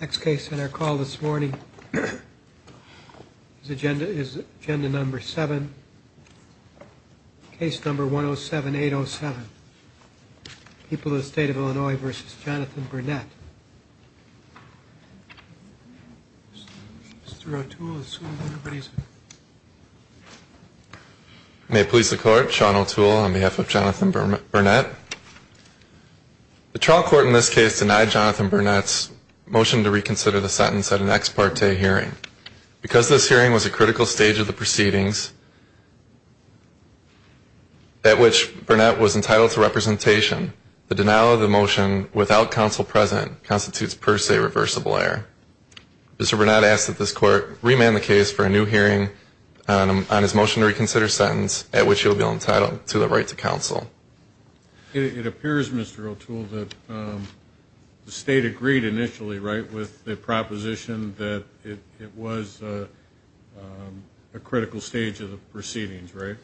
Next case on our call this morning is agenda number seven, case number 107-807. People of the State of Illinois v. Jonathan Burnett. Mr. O'Toole. May it please the Court, Sean O'Toole on behalf of Jonathan Burnett. The trial court in this case denied Jonathan Burnett's motion to reconsider the sentence at an ex parte hearing. Because this hearing was a critical stage of the proceedings at which Burnett was entitled to representation, the denial of the motion without counsel present constitutes per se reversible error. Mr. Burnett asked that this Court remand the case for a new hearing on his motion to reconsider sentence at which he will be entitled to the right to counsel. It appears, Mr. O'Toole, that the State agreed initially, right, with the proposition that it was a critical stage of the proceedings, right?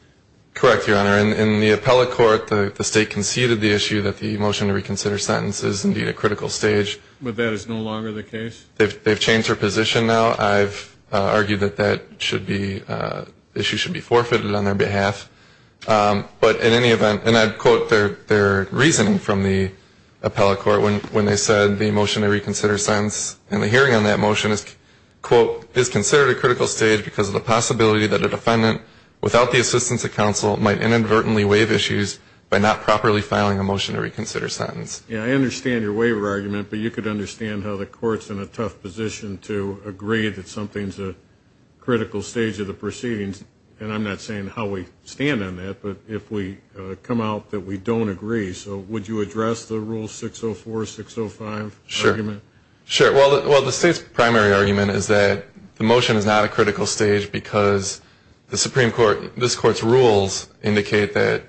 Correct, Your Honor. In the appellate court, the State conceded the issue that the motion to reconsider sentence is indeed a critical stage. But that is no longer the case? They've changed their position now. I've argued that that should be, the issue should be forfeited on their behalf. But in any event, and I'd quote their reasoning from the appellate court when they said the motion to reconsider sentence and the hearing on that motion is, quote, is considered a critical stage because of the possibility that a defendant without the assistance of counsel might inadvertently waive issues by not properly filing a motion to reconsider sentence. Yeah, I understand your waiver argument, but you could understand how the Court's in a tough position to agree that something's a critical stage of the proceedings. And I'm not saying how we stand on that, but if we come out that we don't agree. So would you address the Rule 604, 605 argument? Sure. Sure. Well, the State's primary argument is that the motion is not a critical stage because the Supreme Court, this Court's rules indicate that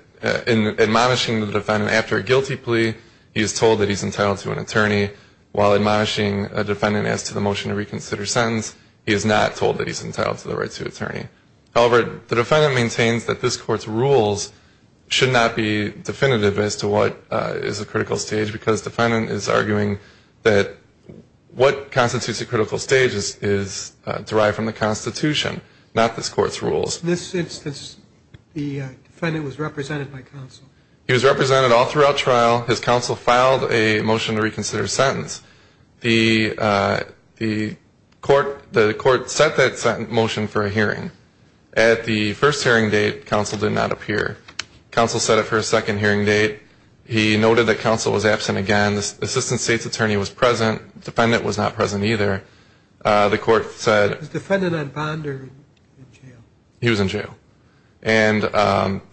in admonishing the defendant after a guilty plea, he is told that he's entitled to an attorney. While admonishing a defendant as to the motion to reconsider sentence, he is not told that he's entitled to the right to an attorney. However, the defendant maintains that this Court's rules should not be definitive as to what is a critical stage because the defendant is arguing that what constitutes a critical stage is derived from the Constitution, not this Court's rules. In this instance, the defendant was represented by counsel. He was represented all throughout trial. His counsel filed a motion to reconsider sentence. The Court set that motion for a hearing. At the first hearing date, counsel did not appear. Counsel set it for a second hearing date. He noted that counsel was absent again. The assistant State's attorney was present. The defendant was not present either. The Court said he was in jail. And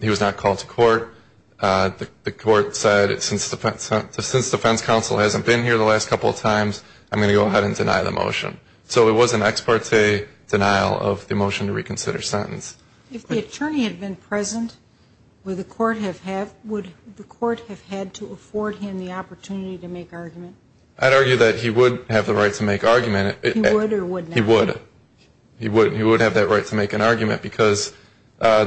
he was not called to court. The Court said since defense counsel hasn't been here the last couple of times, I'm going to go ahead and deny the motion. So it was an ex parte denial of the motion to reconsider sentence. If the attorney had been present, would the Court have had to afford him the opportunity to make argument? I'd argue that he would have the right to make argument. He would or would not? He would. He would have that right to make an argument because the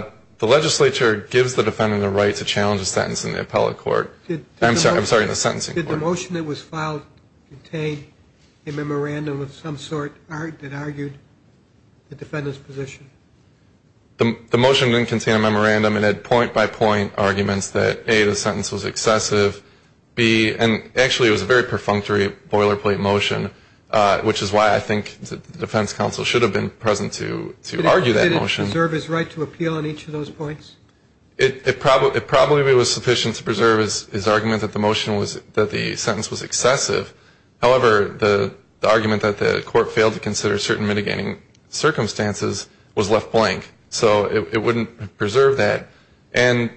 legislature gives the defendant the right to challenge a sentence in the appellate court. I'm sorry, in the sentencing court. Did the motion that was filed contain a memorandum of some sort that argued the defendant's position? The motion didn't contain a memorandum. It had point by point arguments that, A, the sentence was excessive, B, and actually it was a very perfunctory boilerplate motion, which is why I think the defense counsel should have been present to argue that motion. Did the defendant preserve his right to appeal on each of those points? It probably was sufficient to preserve his argument that the motion was, that the sentence was excessive. However, the argument that the Court failed to consider certain mitigating circumstances was left blank. So it wouldn't preserve that. And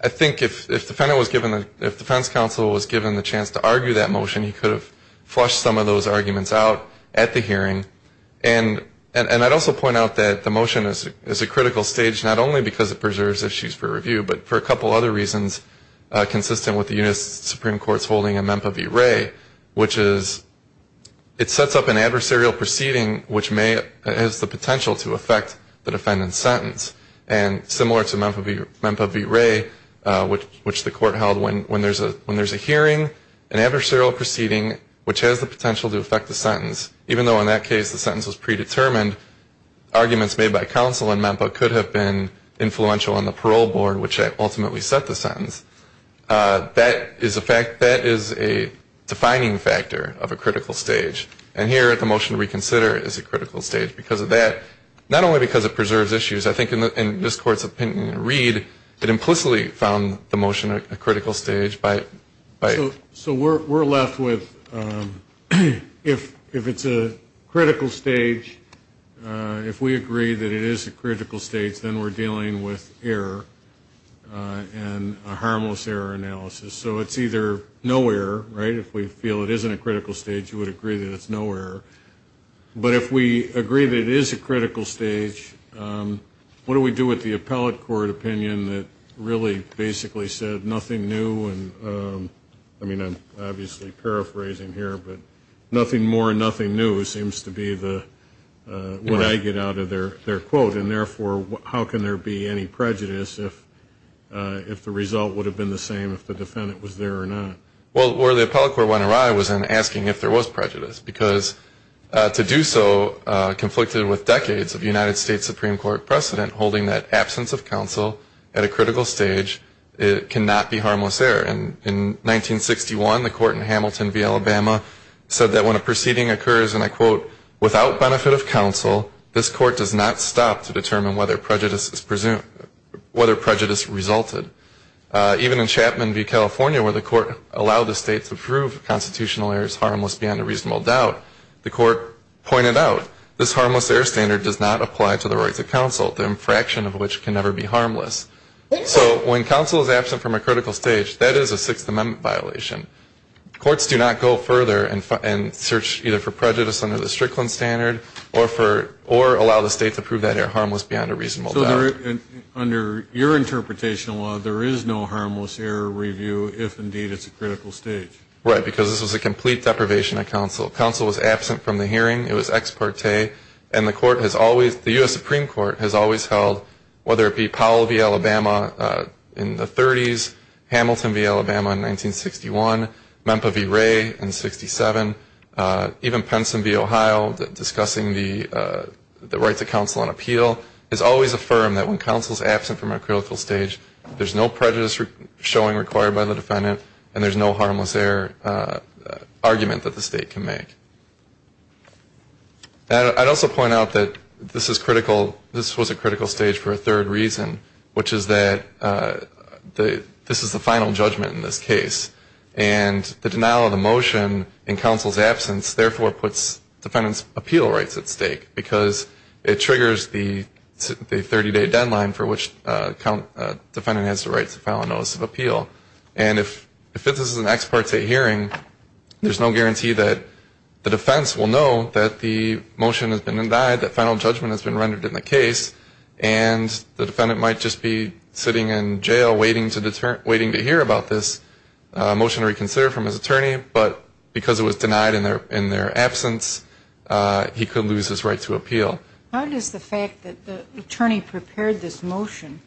I think if the defense counsel was given the chance to argue that motion, he could have flushed some of those arguments out at the hearing. And I'd also point out that the motion is a critical stage not only because it preserves issues for review, but for a couple other reasons consistent with the U.S. Supreme Court's holding of MEMPA v. Wray, which is it sets up an adversarial proceeding which has the potential to affect the defendant's sentence. And similar to MEMPA v. Wray, which the Court held when there's a hearing, an adversarial proceeding which has the potential to affect the sentence, even though in that case the sentence was predetermined, arguments made by counsel in MEMPA could have been influential on the parole board, which ultimately set the sentence. That is a defining factor of a critical stage. And here the motion to reconsider is a critical stage because of that, not only because it preserves issues, I think in this Court's opinion, Reed, that implicitly found the motion a critical stage. So we're left with if it's a critical stage, if we agree that it is a critical stage, then we're dealing with error and a harmless error analysis. So it's either no error, right? If we feel it isn't a critical stage, you would agree that it's no error. But if we agree that it is a critical stage, what do we do with the appellate court opinion that really basically said nothing new? I mean, I'm obviously paraphrasing here, but nothing more and nothing new seems to be what I get out of their quote, and therefore how can there be any prejudice if the result would have been the same if the defendant was there or not? Well, where the appellate court went awry was in asking if there was prejudice, because to do so conflicted with decades of United States Supreme Court precedent, holding that absence of counsel at a critical stage cannot be harmless error. In 1961, the court in Hamilton v. Alabama said that when a proceeding occurs, and I quote, without benefit of counsel, this court does not stop to determine whether prejudice resulted. Even in Chapman v. California where the court allowed the state to prove constitutional errors harmless beyond a reasonable doubt, the court pointed out this harmless error standard does not apply to the rights of counsel, the infraction of which can never be harmless. So when counsel is absent from a critical stage, that is a Sixth Amendment violation. Courts do not go further and search either for prejudice under the Strickland standard or allow the state to prove that error harmless beyond a reasonable doubt. Under your interpretation of law, there is no harmless error review if, indeed, it's a critical stage. Right, because this was a complete deprivation of counsel. Counsel was absent from the hearing. It was ex parte, and the court has always, the U.S. Supreme Court has always held, whether it be Powell v. Alabama in the 30s, Hamilton v. Alabama in 1961, Memphis v. Ray in 67, even Penson v. Ohio discussing the rights of counsel on appeal, has always affirmed that when counsel is absent from a critical stage, there's no prejudice showing required by the defendant, and there's no harmless error argument that the state can make. I'd also point out that this was a critical stage for a third reason, which is that this is the final judgment in this case, and the denial of the motion in counsel's absence, therefore, puts defendant's appeal rights at stake, because it triggers the 30-day deadline for which the defendant has the right to file a notice of appeal. And if this is an ex parte hearing, there's no guarantee that the defense will know that the motion has been indicted, that final judgment has been rendered in the case, and the defendant might just be sitting in jail waiting to hear about this motion to reconsider from his attorney, but because it was denied in their absence, he could lose his right to appeal. How does the fact that the attorney prepared this motion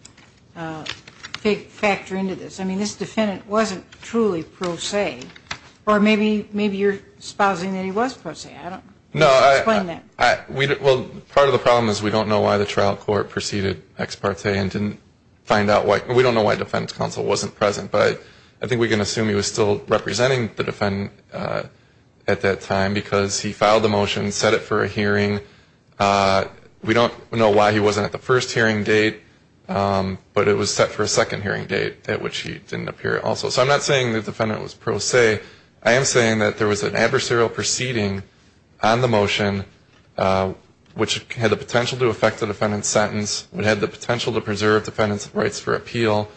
factor into this? I mean, this defendant wasn't truly pro se, or maybe you're espousing that he was pro se. I don't know. Explain that. Well, part of the problem is we don't know why the trial court proceeded ex parte and didn't find out why the defense counsel wasn't present, but I think we can assume he was still representing the defendant at that time, because he filed the motion, set it for a hearing. We don't know why he wasn't at the first hearing date, but it was set for a second hearing date at which he didn't appear also. So I'm not saying the defendant was pro se. I am saying that there was an adversarial proceeding on the motion, which had the potential to affect the defendant's sentence, which had the potential to preserve the defendant's rights for appeal,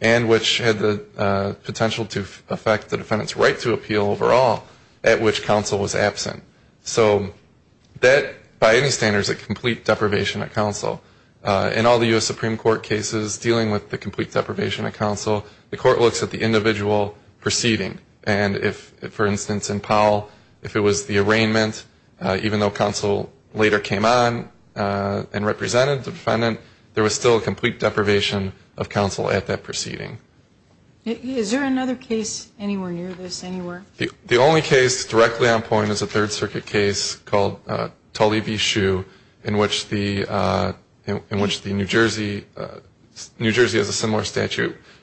and which had the potential to affect the defendant's right to appeal overall, at which counsel was absent. So that, by any standard, is a complete deprivation of counsel. In all the U.S. Supreme Court cases dealing with the complete deprivation of counsel, the court looks at the individual proceeding. And if, for instance, in Powell, if it was the arraignment, even though counsel later came on and represented the defendant, there was still a complete deprivation of counsel at that proceeding. Is there another case anywhere near this, anywhere? The only case directly on point is a Third Circuit case called Tully v.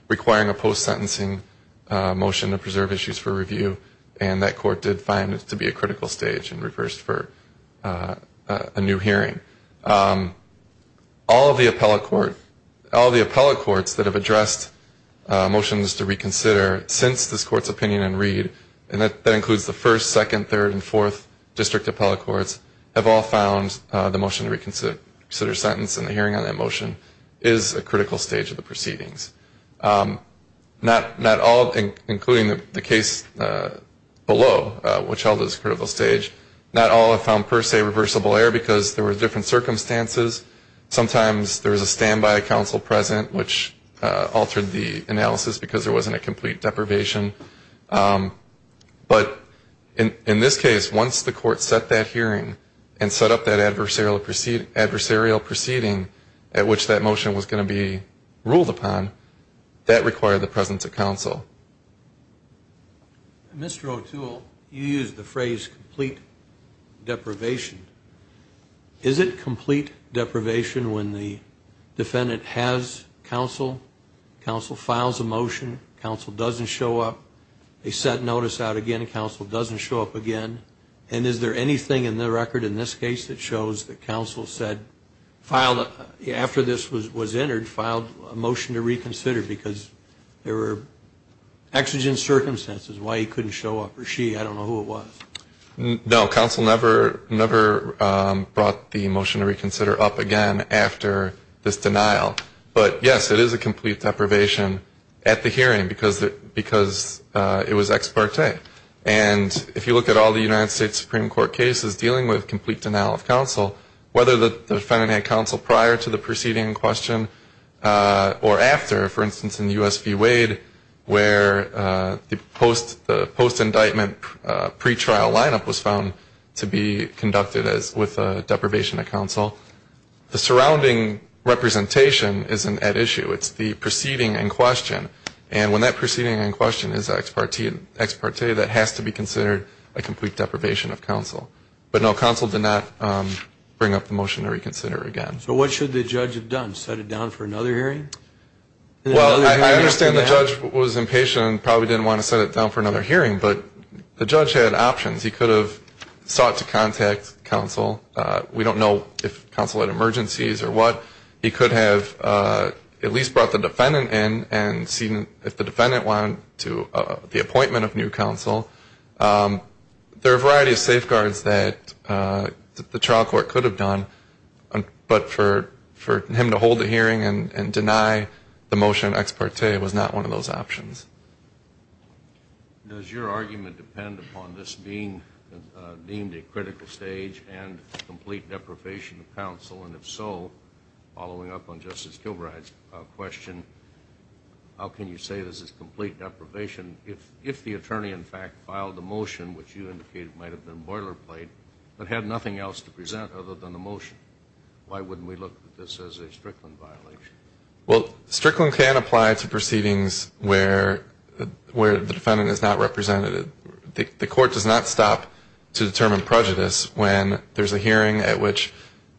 requiring a post-sentencing motion to preserve issues for review, and that court did find it to be a critical stage and reversed for a new hearing. All of the appellate courts that have addressed motions to reconsider since this court's opinion and read, and that includes the first, second, third, and fourth district appellate courts, have all found the motion to reconsider sentence and the hearing on that motion is a critical stage of the proceedings. Not all, including the case below, which held this critical stage, not all have found per se reversible error because there were different circumstances. Sometimes there was a standby counsel present, which altered the analysis because there wasn't a complete deprivation. But in this case, once the court set that hearing and set up that adversarial proceeding at which that motion was going to be ruled upon, that required the presence of counsel. Mr. O'Toole, you used the phrase complete deprivation. Is it complete deprivation when the defendant has counsel, counsel files a motion, counsel doesn't show up, they set notice out again, counsel doesn't show up again? And is there anything in the record in this case that shows that counsel said, after this was entered, filed a motion to reconsider because there were exigent circumstances, why he couldn't show up, or she, I don't know who it was. No, counsel never brought the motion to reconsider up again after this denial. But, yes, it is a complete deprivation at the hearing because it was ex parte. And if you look at all the United States Supreme Court cases dealing with complete denial of counsel, whether the defendant had counsel prior to the proceeding in question or after, for instance, in the U.S. v. Wade where the post-indictment pretrial lineup was found to be conducted with deprivation of counsel, the surrounding representation isn't at issue. It's the proceeding in question. And when that proceeding in question is ex parte, that has to be considered a complete deprivation of counsel. But, no, counsel did not bring up the motion to reconsider again. So what should the judge have done, set it down for another hearing? Well, I understand the judge was impatient and probably didn't want to set it down for another hearing, but the judge had options. He could have sought to contact counsel. We don't know if counsel had emergencies or what. He could have at least brought the defendant in and seen if the defendant wanted the appointment of new counsel. There are a variety of safeguards that the trial court could have done, but for him to hold a hearing and deny the motion ex parte was not one of those options. Does your argument depend upon this being deemed a critical stage and complete deprivation of counsel? And if so, following up on Justice Kilbride's question, how can you say this is complete deprivation? If the attorney, in fact, filed the motion, which you indicated might have been boilerplate, but had nothing else to present other than the motion, why wouldn't we look at this as a Strickland violation? Well, Strickland can apply to proceedings where the defendant is not represented. The court does not stop to determine prejudice when there's a hearing at which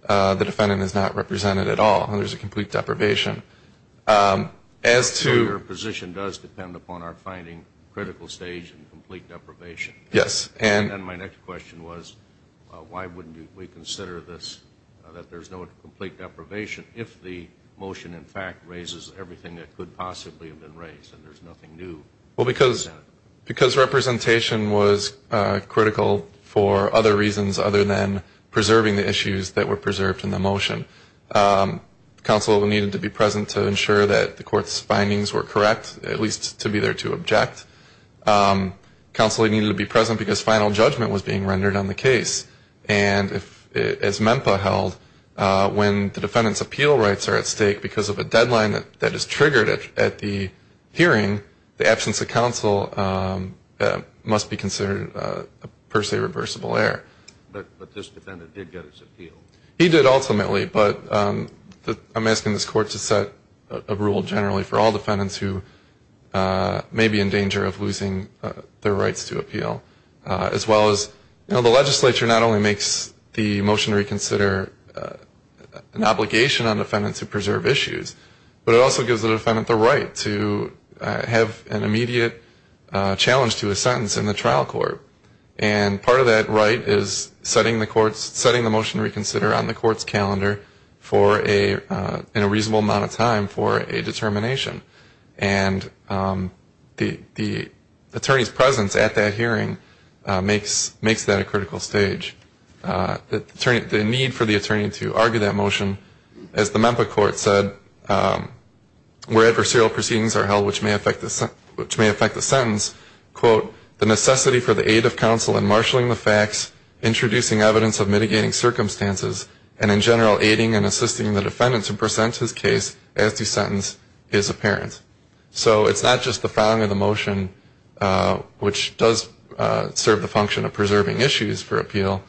the defendant is not represented at all and there's a complete deprivation. So your position does depend upon our finding critical stage and complete deprivation. Yes. And my next question was why wouldn't we consider this, that there's no complete deprivation, if the motion, in fact, raises everything that could possibly have been raised and there's nothing new? Well, because representation was critical for other reasons other than preserving the issues that were preserved in the motion. Counsel needed to be present to ensure that the court's findings were correct, at least to be there to object. Counsel needed to be present because final judgment was being rendered on the case. And as MEMPA held, when the defendant's appeal rights are at stake because of a deadline that is triggered at the hearing, the absence of counsel must be considered a per se reversible error. But this defendant did get his appeal. He did ultimately, but I'm asking this court to set a rule generally for all defendants who may be in danger of losing their rights to appeal. As well as, you know, the legislature not only makes the motion to reconsider an obligation on defendants to preserve issues, but it also gives the defendant the right to have an immediate challenge to a sentence in the trial court. And part of that right is setting the motion to reconsider on the court's calendar in a reasonable amount of time for a determination. And the attorney's presence at that hearing makes that a critical stage. The need for the attorney to argue that motion, as the MEMPA court said, where adversarial proceedings are held which may affect the sentence, quote, the necessity for the aid of counsel in marshalling the facts, introducing evidence of mitigating circumstances, and in general, aiding and assisting the defendant to present his case as the sentence is apparent. So it's not just the following of the motion, which does serve the function of preserving issues for appeal,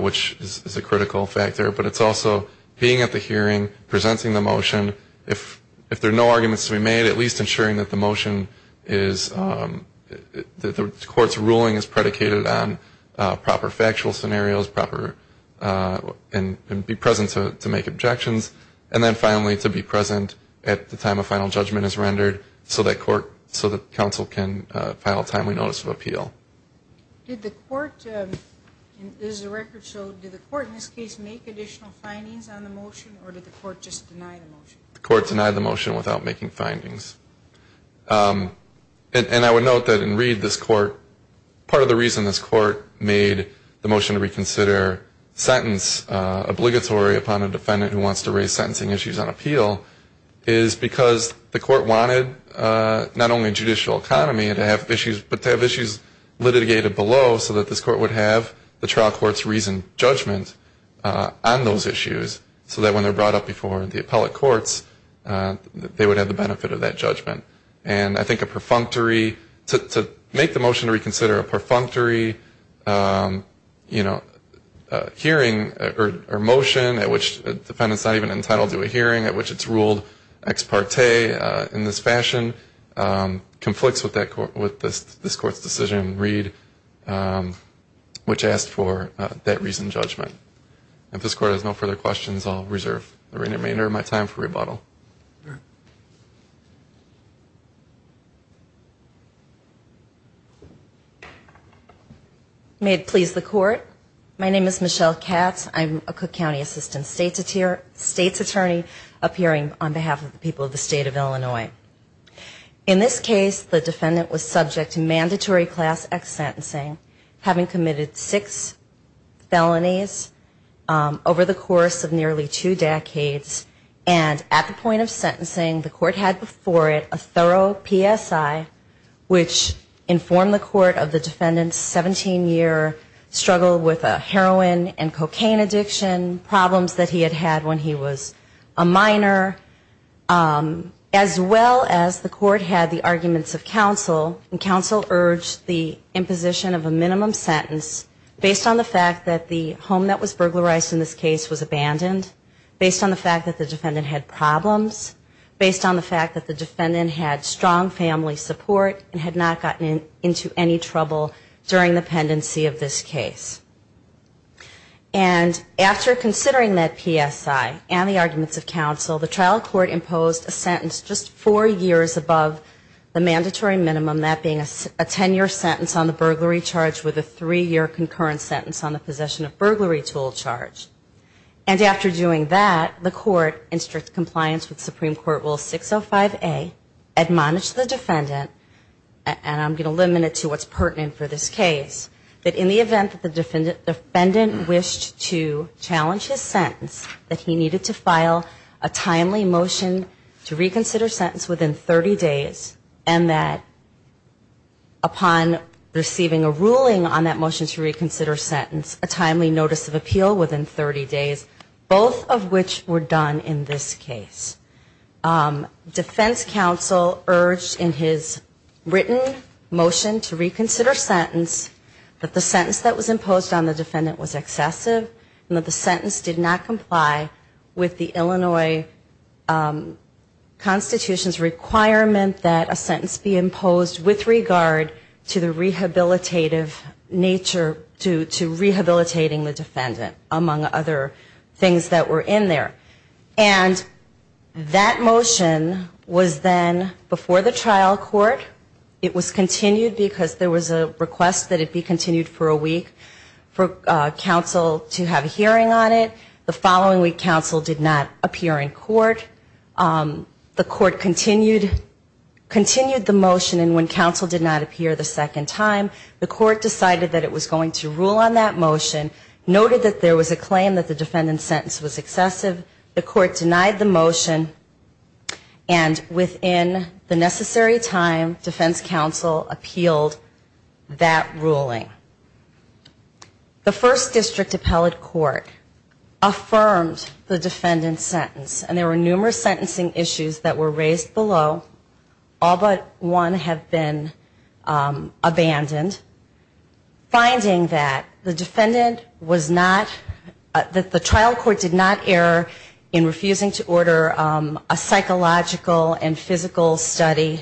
which is a critical factor, but it's also being at the hearing, presenting the motion. If there are no arguments to be made, at least ensuring that the motion is, that the court's ruling is predicated on proper factual scenarios, proper, and be present to make objections, and then finally to be present at the time a final judgment is rendered so that court, so that counsel can file a timely notice of appeal. Did the court, as the record showed, did the court in this case make additional findings on the motion, or did the court just deny the motion? The court denied the motion without making findings. And I would note that in Reed, this court, part of the reason this court made the motion to reconsider sentence obligatory upon a defendant who wants to raise sentencing issues on appeal is because the court wanted not only a judicial economy, but to have issues litigated below so that this court would have the trial court's reasoned judgment on those issues so that when they're brought up before the appellate courts, they would have the benefit of that judgment. And I think a perfunctory, to make the motion to reconsider a perfunctory, you know, hearing or motion at which the defendant's not even entitled to a hearing, at which it's ruled ex parte in this fashion, conflicts with that, with this court's decision in Reed, which asked for that reasoned judgment. If this court has no further questions, I'll reserve the remainder of my time for rebuttal. May it please the court. My name is Michelle Katz. I'm a Cook County Assistant State's Attorney appearing on behalf of the people of the state of Illinois. In this case, the defendant was subject to mandatory class X sentencing, having committed six felonies over the course of nearly two decades. And at the point of sentencing, the court had before it a thorough PSI, which informed the court of the defendant's 17-year struggle with heroin and cocaine addiction, problems that he had had when he was a minor, as well as the court had the arguments of counsel, and counsel urged the imposition of a minimum sentence to be based on the fact that the home that was burglarized in this case was abandoned, based on the fact that the defendant had problems, based on the fact that the defendant had strong family support and had not gotten into any trouble during the pendency of this case. And after considering that PSI and the arguments of counsel, the trial court imposed a sentence just four years above the concurrent sentence on the possession of burglary tool charge. And after doing that, the court in strict compliance with Supreme Court Rule 605A, admonished the defendant, and I'm going to limit it to what's pertinent for this case, that in the event that the defendant wished to challenge his sentence, that he needed to file a timely motion to reconsider sentence within 30 days, and that he needed to file a timely motion to reconsider sentence, a timely notice of appeal within 30 days, both of which were done in this case. Defense counsel urged in his written motion to reconsider sentence that the sentence that was imposed on the defendant was excessive, and that the sentence did not comply with the Illinois Constitution's requirement that a sentence be imposed with regard to the defendant, among other things that were in there. And that motion was then before the trial court. It was continued because there was a request that it be continued for a week for counsel to have a hearing on it. The following week counsel did not appear in court. The court continued the motion, and when counsel did not come back and rule on that motion, noted that there was a claim that the defendant's sentence was excessive. The court denied the motion and within the necessary time defense counsel appealed that ruling. The First District Appellate Court affirmed the defendant's sentence, and there were numerous sentencing issues that were raised below. All but one have been abandoned. Finding that the defendant was not, that the trial court did not err in refusing to order a psychological and physical study,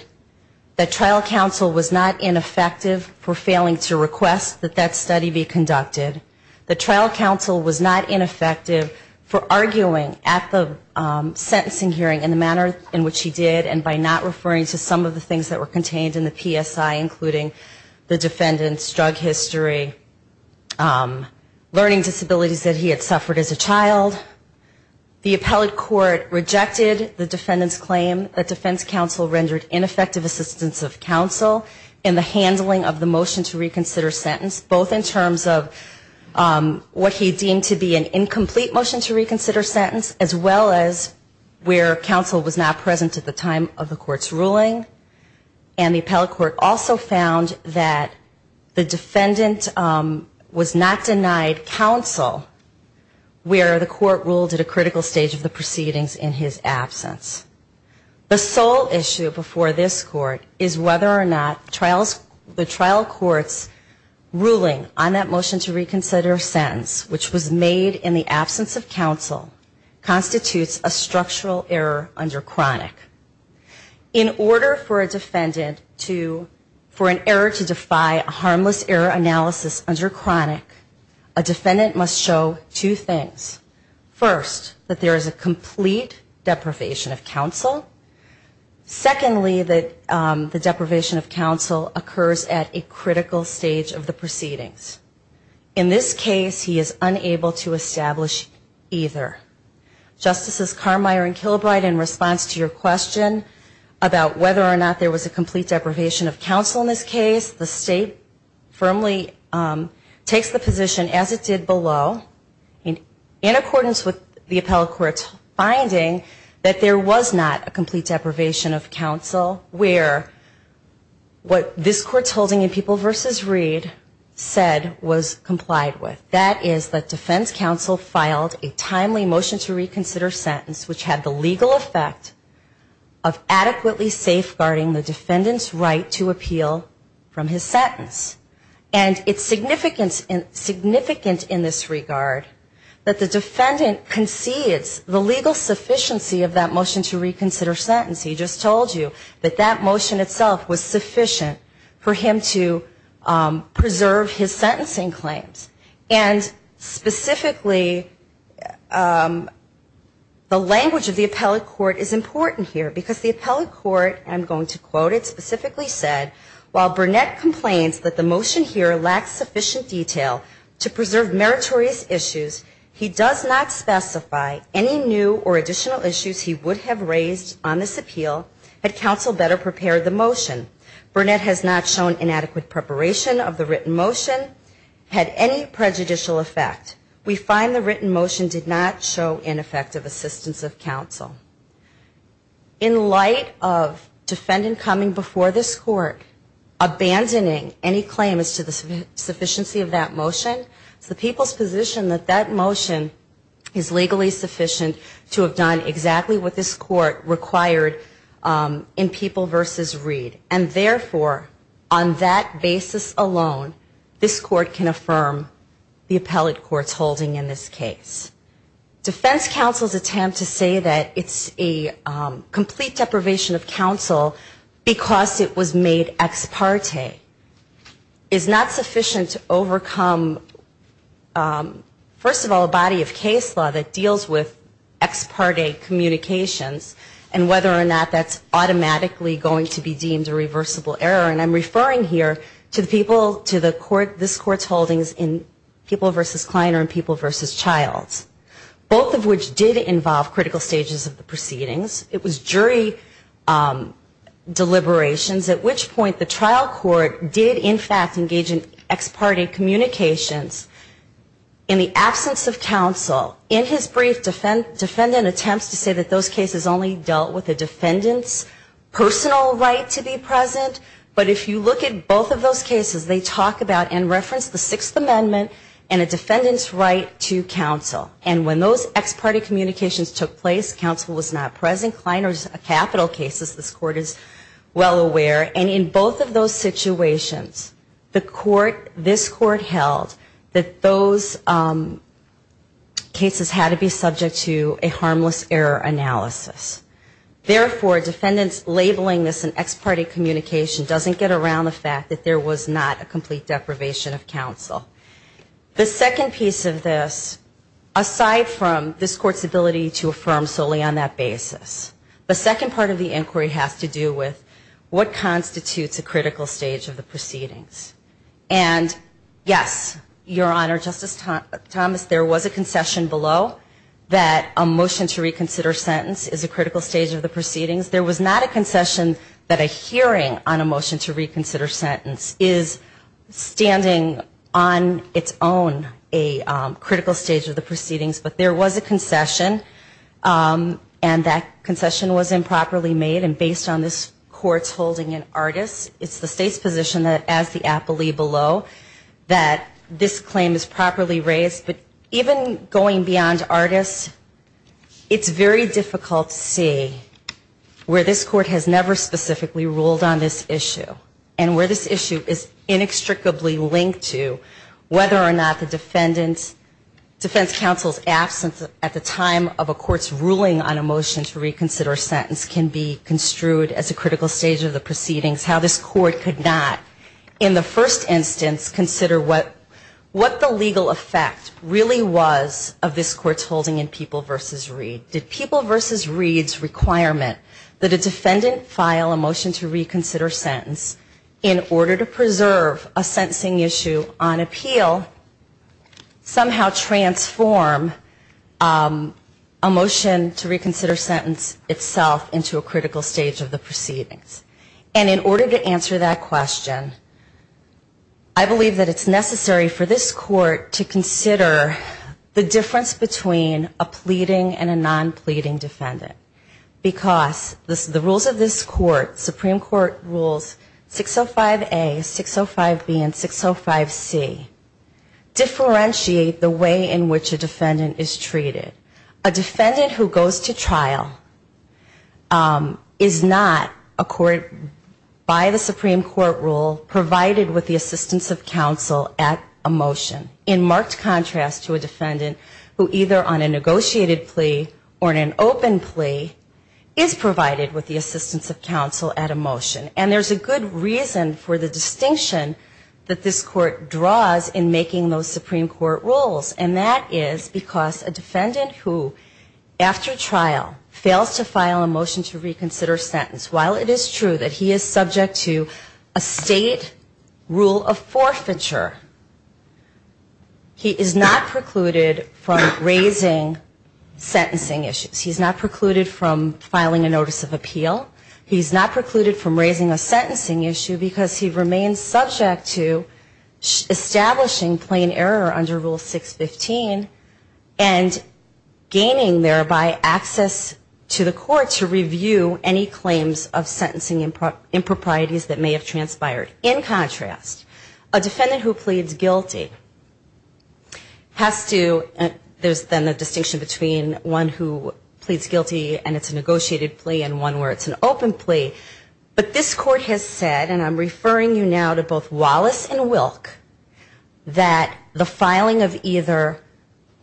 the trial counsel was not ineffective for failing to request that that study be conducted. The trial counsel was not ineffective for arguing at the sentencing hearing in the manner in which he did and by not referring to some of the things that were contained in the PSI, including the defendant's drug history, learning disabilities that he had suffered as a child. The appellate court rejected the defendant's claim that defense counsel rendered ineffective assistance of counsel in the handling of the motion to reconsider sentence, both in terms of what he deemed to be an incomplete motion to reconsider sentence, as well as where counsel was not present at the time of the court's decision. The trial court's ruling and the appellate court also found that the defendant was not denied counsel where the court ruled at a critical stage of the proceedings in his absence. The sole issue before this court is whether or not the trial court's ruling on that motion to reconsider sentence, which was made in the absence of counsel, constitutes a structural error under chronic. In order for a defendant to, for an error to defy a harmless error analysis under chronic, a defendant must show two things. First, that there is a complete deprivation of counsel. Secondly, that the deprivation of counsel occurs at a critical stage of the proceedings. In this case, he is unable to establish either. Justices Carmeier and Kilbride, in response to your question about whether or not there was a complete deprivation of counsel in this case, the state firmly takes the position, as it did below, in accordance with the appellate court's finding that there was not a complete deprivation of counsel where what this court's holding in People v. Reed said was complied with. That is that defense counsel filed a timely motion to reconsider sentence which had the legal effect of adequately safeguarding the defendant's right to appeal from his sentence. And it's significant in this regard that the defendant concedes the legal sufficiency of that motion to reconsider sentence. He just told you that that motion itself was sufficient for him to preserve his sentencing claims. And specifically, the language of the appellate court is important here, because the appellate court, I'm going to quote it, specifically said, while Burnett complains that the motion here lacks sufficient detail to preserve meritorious issues, he does not specify any new or additional issues he would have raised on this appeal had counsel better prepared the motion. Burnett has not shown inadequate preparation of the written motion, had any prejudicial effect. We find the written motion did not show ineffective assistance of counsel. In light of defendant coming before this court, abandoning any claim as to the sufficiency of that motion, it's the people's position that that motion is legally sufficient to have done exactly what this court required in People v. Reed. And therefore, on that basis alone, this court can affirm the appellate court's holding in this case. Defense counsel's attempt to say that it's a complete deprivation of counsel because it was made ex parte is not sufficient to overcome, first of all, a body of case law that deals with ex parte communications, and whether or not that's automatically going to be deemed a reversible error, and I'm referring here to the people, to the court, this court's holdings in People v. Kleiner and People v. Childs, both of which did involve critical stages of the proceedings. It was jury deliberations, at which point the trial court did, in fact, engage in ex parte communications in the absence of counsel. In his brief defendant attempts to say that those cases only dealt with the defendant's personal right to be present, but if you look at both of those cases, they talk about and reference the Sixth Amendment and a defendant's right to counsel. And when those ex parte communications took place, counsel was not present. Kleiner's capital cases, this court is well aware. And in both of those situations, the court, this court held that those cases had to be subject to a harmless error analysis. And in both of those cases, the defendant's right to counsel was not present. And in both of those cases, the court held that those cases had to be subject to a harmless error analysis. Therefore, defendants labeling this an ex parte communication doesn't get around the fact that there was not a complete deprivation of counsel. The second piece of this, aside from this court's ability to affirm solely on that basis, the second part of the inquiry has to do with what constitutes a critical stage of the proceedings. And yes, Your Honor, Justice Thomas, there was a concession that a hearing on a motion to reconsider sentence is a critical stage of the proceedings. There was not a concession that a hearing on a motion to reconsider sentence is standing on its own a critical stage of the proceedings. But there was a concession, and that concession was improperly made. And based on this court's holding in Artis, it's the State's position that as the apoly below, that this claim is properly raised. But even going beyond Artis, it's very difficult to make a decision on a motion to reconsider sentence. And it's very difficult to see where this court has never specifically ruled on this issue, and where this issue is inextricably linked to whether or not the defendant's defense counsel's absence at the time of a court's ruling on a motion to reconsider sentence can be construed as a critical stage of the proceedings, how this court could not in the first instance consider what the legal effect really was of this court's holding in People v. Reed. Did People v. Reed have a legal obligation to consider the court's holding in People v. Reed's requirement that a defendant file a motion to reconsider sentence in order to preserve a sentencing issue on appeal somehow transform a motion to reconsider sentence itself into a critical stage of the proceedings? And in order to answer that question, I believe that it's necessary for this court to consider the difference between a plea and a pleading defendant. Because the rules of this court, Supreme Court Rules 605A, 605B, and 605C, differentiate the way in which a defendant is treated. A defendant who goes to trial is not, by the Supreme Court rule, provided with the assistance of counsel at a motion, in marked contrast to a defendant who either on a negotiated plea or an appeal, is not treated as a defendant, but on an open plea, is provided with the assistance of counsel at a motion. And there's a good reason for the distinction that this court draws in making those Supreme Court rules, and that is because a defendant who, after trial, fails to file a motion to reconsider sentence, while it is true that he is subject to a state rule of forfeiture, he is not precluded from raising sentencing issues. He's not precluded from filing a notice of appeal. He's not precluded from raising a sentencing issue because he remains subject to establishing plain error under Rule 615 and gaining, thereby, access to the court to review any claims of sentencing improprieties that may have transpired. In contrast, a defendant who pleads guilty has to, there's then a distinction between one who pleads guilty and it's a negotiated plea and one where it's an open plea, but this court has said, and I'm referring you now to both Wallace and Wilk, that the filing of either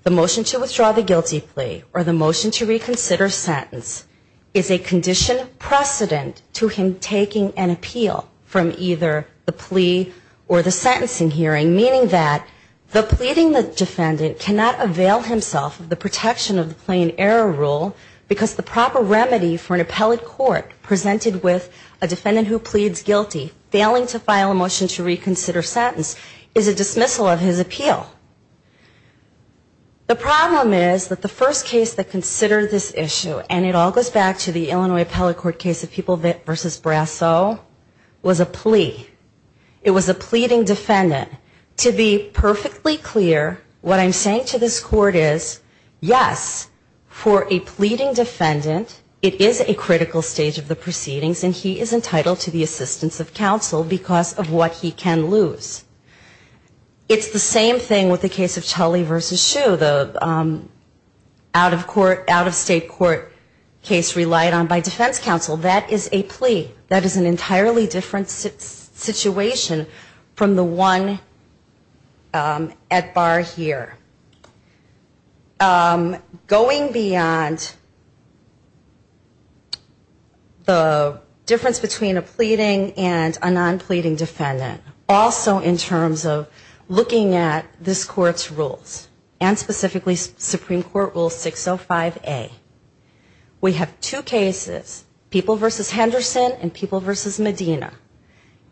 the motion to withdraw the guilty plea or the motion to reconsider sentence is a condition precedent to him taking an appeal from either the plea or the sentencing hearing, meaning that the pleading the defendant cannot avail himself of the protection of the plain error rule because the proper remedy for an appellate court presented with a defendant who pleads guilty, failing to file a motion to reconsider sentence, is a dismissal of his appeal. The problem is that the first case that considered this issue, and it all goes back to the Illinois Appellate Court's case of People v. Brasso, was a plea. It was a pleading defendant. To be perfectly clear, what I'm saying to this court is, yes, for a pleading defendant, it is a critical stage of the proceedings and he is entitled to the assistance of counsel because of what he can lose. It's the same thing with the case of Tully v. Shue, the out-of-court, out-of-state court case relied on by defense counsel, that is a plea. That is an entirely different situation from the one at bar here. Going beyond the difference between a pleading and a non-pleading defendant, also in terms of looking at this court's rules, and specifically Supreme Court Rule 605A, we have two cases, one of which is a plea. People v. Henderson and People v. Medina.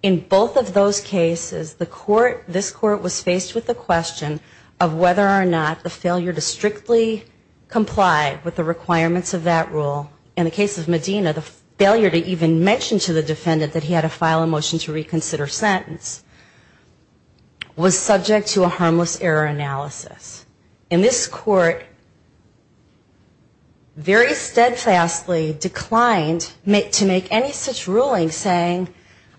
In both of those cases, the court, this court was faced with the question of whether or not the failure to strictly comply with the requirements of that rule, in the case of Medina, the failure to even mention to the defendant that he had to file a motion to reconsider sentence, was subject to a harmless error analysis. In this court, very steadfastly declined to file a motion to reconsider sentence. To make any such ruling saying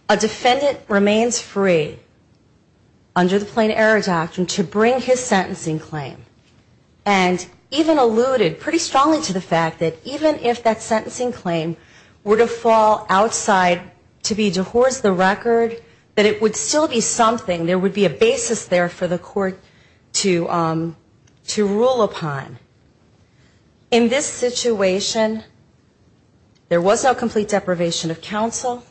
a defendant remains free under the plain error doctrine to bring his sentencing claim. And even alluded pretty strongly to the fact that even if that sentencing claim were to fall outside to be divorced the record, that it would still be something, there would be a basis there for the court to rule upon. In this situation, there was no complete deprivation of counsel,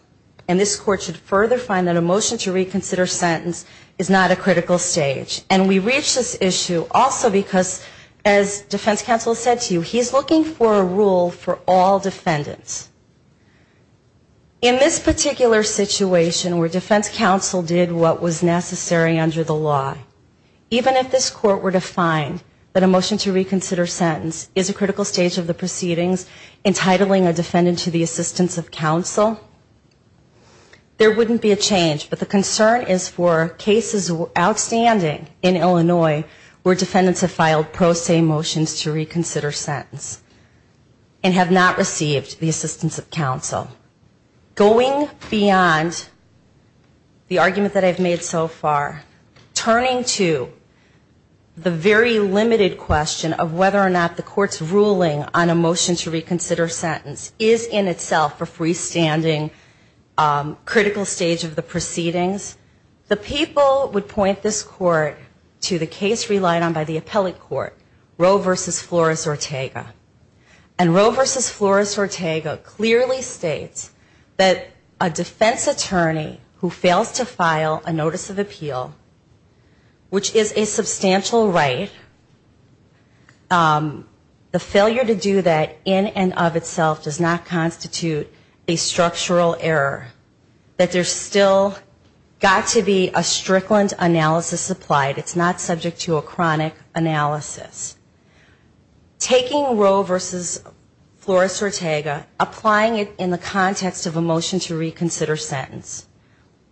and this court should further find that a motion to reconsider sentence is not a critical stage. And we reach this issue also because, as defense counsel said to you, he's looking for a rule for all defendants. In this particular situation, where defense counsel did what was necessary under the law, even if this court were to find that a motion to reconsider sentence is a critical stage of the proceedings, entitling a defendant to the assistance of counsel, there wouldn't be a change. But the concern is for cases outstanding in Illinois where defendants have filed pro se motions to reconsider sentence. And have not received the assistance of counsel. Going beyond the argument that I've made so far, turning to the very limited question of whether or not the court's ruling on a motion to reconsider sentence is in itself a freestanding critical stage of the proceedings, the people would point this court to the case relied on by the appellate court, Roe v. Flores-Ortega. And Roe v. Flores-Ortega clearly states that a defense attorney who fails to file a notice of appeal, which is a substantial right, the failure to do that in and of itself does not constitute a structural error. That there's still got to be a strickland analysis applied. It's not subject to a chronic analysis. Taking Roe v. Flores-Ortega, applying it in the context of a motion to reconsider sentence,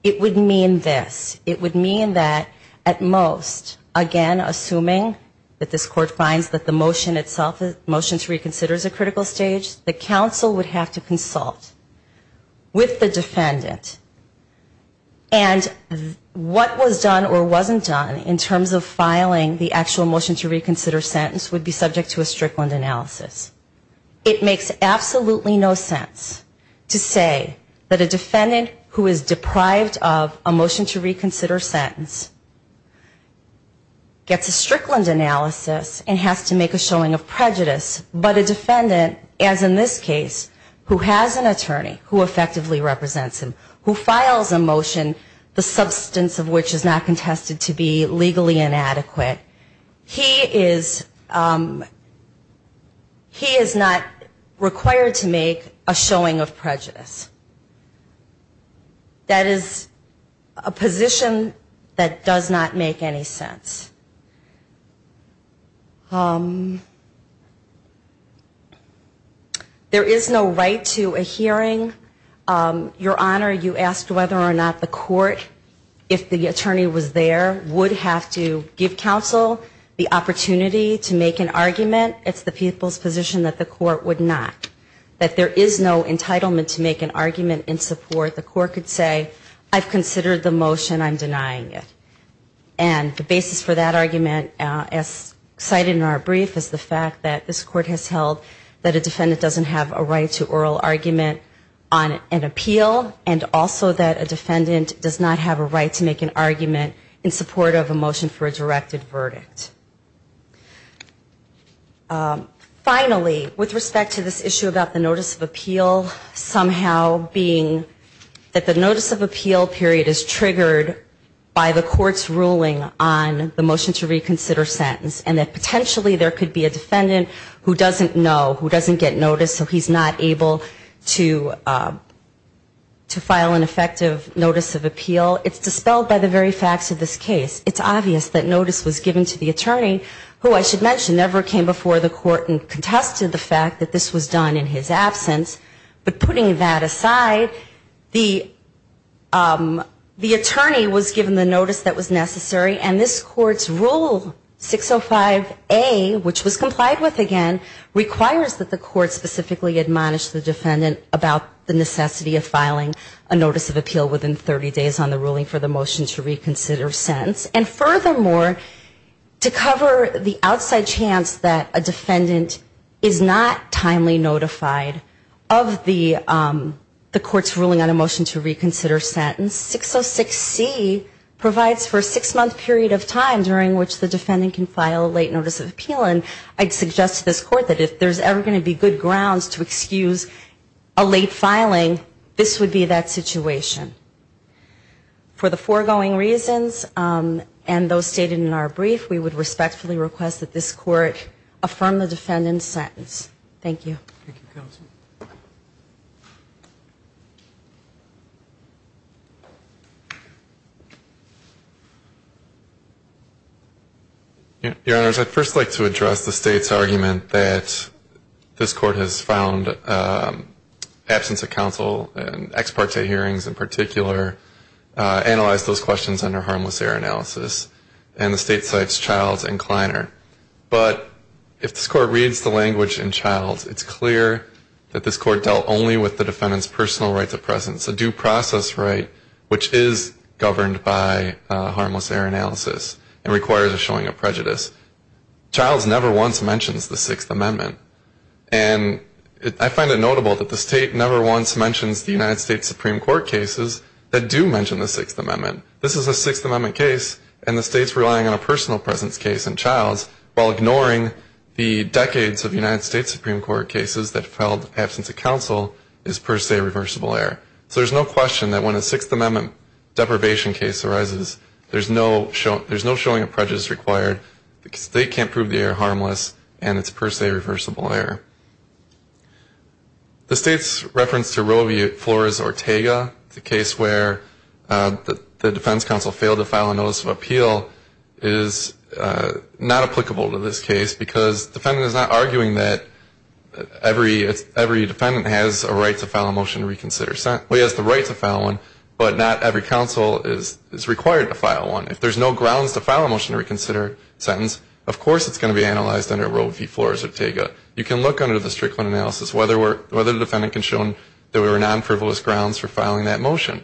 it would mean this. It would mean that at most, again, assuming that this court finds that the motion itself, the motion to reconsider is a critical stage, the counsel would have to consult with the defendant. And what was done or wasn't done in terms of filing the actual motion to reconsider sentence, the counsel would have to consult with the defendant and say, okay, this motion to reconsider sentence would be subject to a strickland analysis. It makes absolutely no sense to say that a defendant who is deprived of a motion to reconsider sentence gets a strickland analysis and has to make a showing of prejudice, but a defendant, as in this case, who has an attorney, who effectively represents him, who files a motion, the substance of which is not contested to be legally inadequate, he is not required to make a showing of prejudice. That is a position that does not make any sense. There is no right to a hearing. Your Honor, you asked whether or not the court, if the attorney was there, would have to make an argument. It's the people's position that the court would not. That there is no entitlement to make an argument in support. The court could say, I've considered the motion, I'm denying it. And the basis for that argument, as cited in our brief, is the fact that this court has held that a defendant doesn't have a right to oral argument on an appeal, and also that a defendant does not have a right to make an argument in support of a motion for a directed verdict. Finally, with respect to this issue about the notice of appeal, somehow being that the notice of appeal period is triggered by the court's ruling on the motion to reconsider sentence, and that potentially there could be a defendant who doesn't know, who doesn't get notice, so he's not able to file an effective notice of appeal, it's dispelled by the very facts of this case, it's obvious that notice was given to the attorney, who I should mention never came before the court and contested the fact that this was done in his absence. But putting that aside, the attorney was given the notice that was necessary, and this court's rule 605A, which was complied with again, requires that the court specifically admonish the defendant about the necessity of filing a notice of appeal within 30 days on the ruling for the motion to reconsider sentence. And furthermore, to cover the outside chance that a defendant is not timely notified of the court's ruling on a motion to reconsider sentence, 606C provides for a six-month period of time during which the defendant can file a late notice of appeal, and I'd suggest to this court that if there's ever going to be good grounds to excuse a late filing, this would be that period of time. And those stated in our brief, we would respectfully request that this court affirm the defendant's sentence. Thank you. Your Honors, I'd first like to address the State's argument that this court has found absence of counsel and ex parte hearings in the State's analysis, and the State cites Childs and Kleiner. But if this court reads the language in Childs, it's clear that this court dealt only with the defendant's personal rights of presence, a due process right which is governed by harmless error analysis and requires a showing of prejudice. Childs never once mentions the Sixth Amendment, and I find it notable that the State never once mentions the United States Supreme Court cases that do mention the Sixth Amendment. This is a Sixth Amendment case, and the State's relying on a personal presence case in Childs while ignoring the decades of United States Supreme Court cases that filed absence of counsel is per se reversible error. So there's no question that when a Sixth Amendment deprivation case arises, there's no showing of prejudice required because the State can't prove the error harmless, and it's per se reversible error. The State's reference to Roe v. Flores-Ortega, the case where the defense counsel failed to file a notice of appeal is not applicable to this case because the defendant is not arguing that every defendant has a right to file a motion to reconsider. Well, he has the right to file one, but not every counsel is required to file one. If there's no grounds to file a motion to reconsider sentence, of course it's going to be analyzed under Roe v. Flores-Ortega. You can look under the Strickland analysis whether the defendant can show that there were non-frivolous grounds for filing that motion.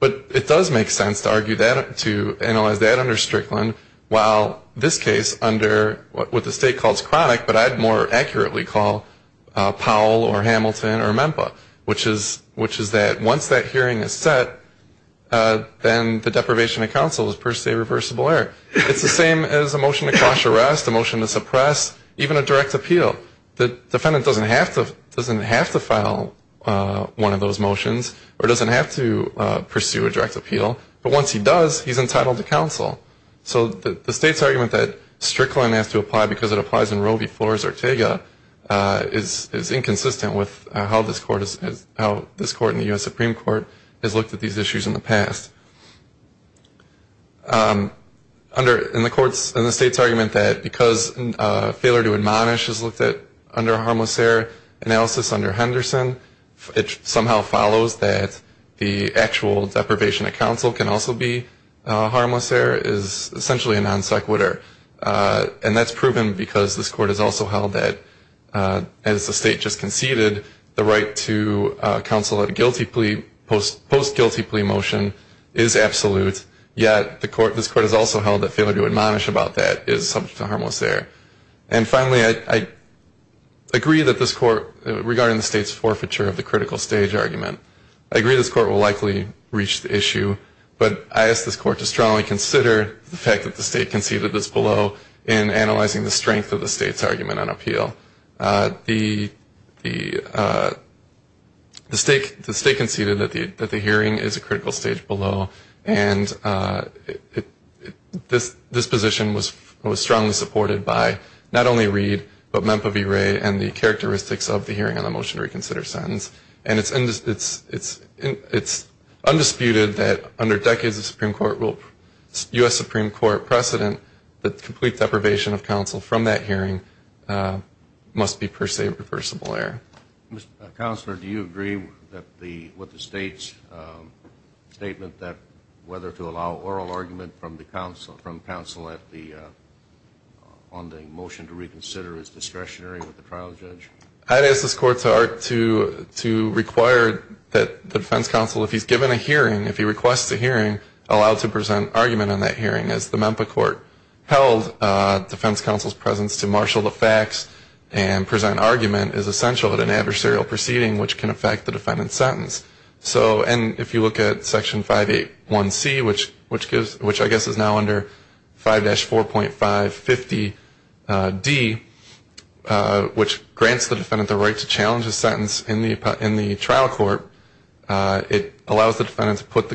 But it does make sense to argue that, to analyze that under Strickland, while this case under what the State calls chronic, but I'd more accurately call Powell or Hamilton or Memphis, which is that once that hearing is set, then the deprivation of counsel is per se reversible error. It's the same as a motion to quash arrest, a motion to suppress, even a direct appeal. The defendant doesn't have to file one of those motions or doesn't have to pursue a direct appeal, but once he does, he's entitled to counsel. So the State's argument that Strickland has to apply because it applies in Roe v. Flores-Ortega is inconsistent with how this Court in the U.S. Supreme Court has looked at these issues in the past. In the State's argument that because failure to admonish is looked at under a harmless error analysis under Henderson, it somehow follows that the actual deprivation of counsel can also be a harmless error is essentially a non sequitur. And that's proven because this Court has also held that, as the State just conceded, the right to counsel at a guilty plea, post-guilty plea motion is absolute, yet this Court has also held that failure to admonish about that is subject to harmless error. So this Court has also held that failure to admonish is a non sequitur of the critical stage argument. I agree this Court will likely reach the issue, but I ask this Court to strongly consider the fact that the State conceded this below in analyzing the strength of the State's argument on appeal. The State conceded that the hearing is a critical stage below, and this position was strongly supported by not only Reid, but Memph of Erie and the characteristics of the hearing on the motion to reconsider sentence. And it's undisputed that under decades of Supreme Court rule, U.S. Supreme Court precedent, that complete deprivation of counsel from that hearing must be per se reversible error. Counselor, do you agree that what the State's statement that whether to allow oral argument from counsel on the motion to be reversible error is discretionary with the trial judge? I'd ask this Court to require that the defense counsel, if he's given a hearing, if he requests a hearing, allow to present argument on that hearing, as the Memph court held defense counsel's presence to marshal the facts and present argument is essential at an adversarial proceeding, which can affect the defendant's sentence. So, and if you look at Section 581C, which I guess is now under 5-4.550D, that's essentially the same thing. Which grants the defendant the right to challenge a sentence in the trial court. It allows the defendant to put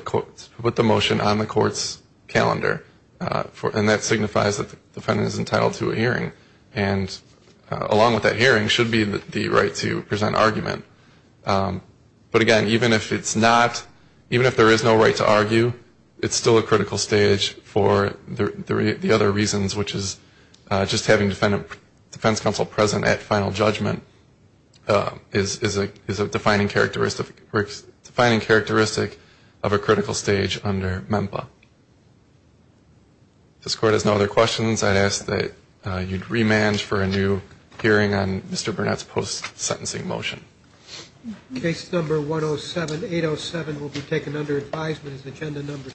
the motion on the court's calendar, and that signifies that the defendant is entitled to a hearing, and along with that hearing should be the right to present argument. But again, even if it's not, even if there is no right to argue, it's still a critical stage for the other reasons, which is just having defense counsel present at final judgment is a defining characteristic of a critical stage under MEMPA. If this Court has no other questions, I'd ask that you'd remand for a new hearing on Mr. Burnett's post-sentencing motion. Case number 107807 will be taken under advisement as agenda number two.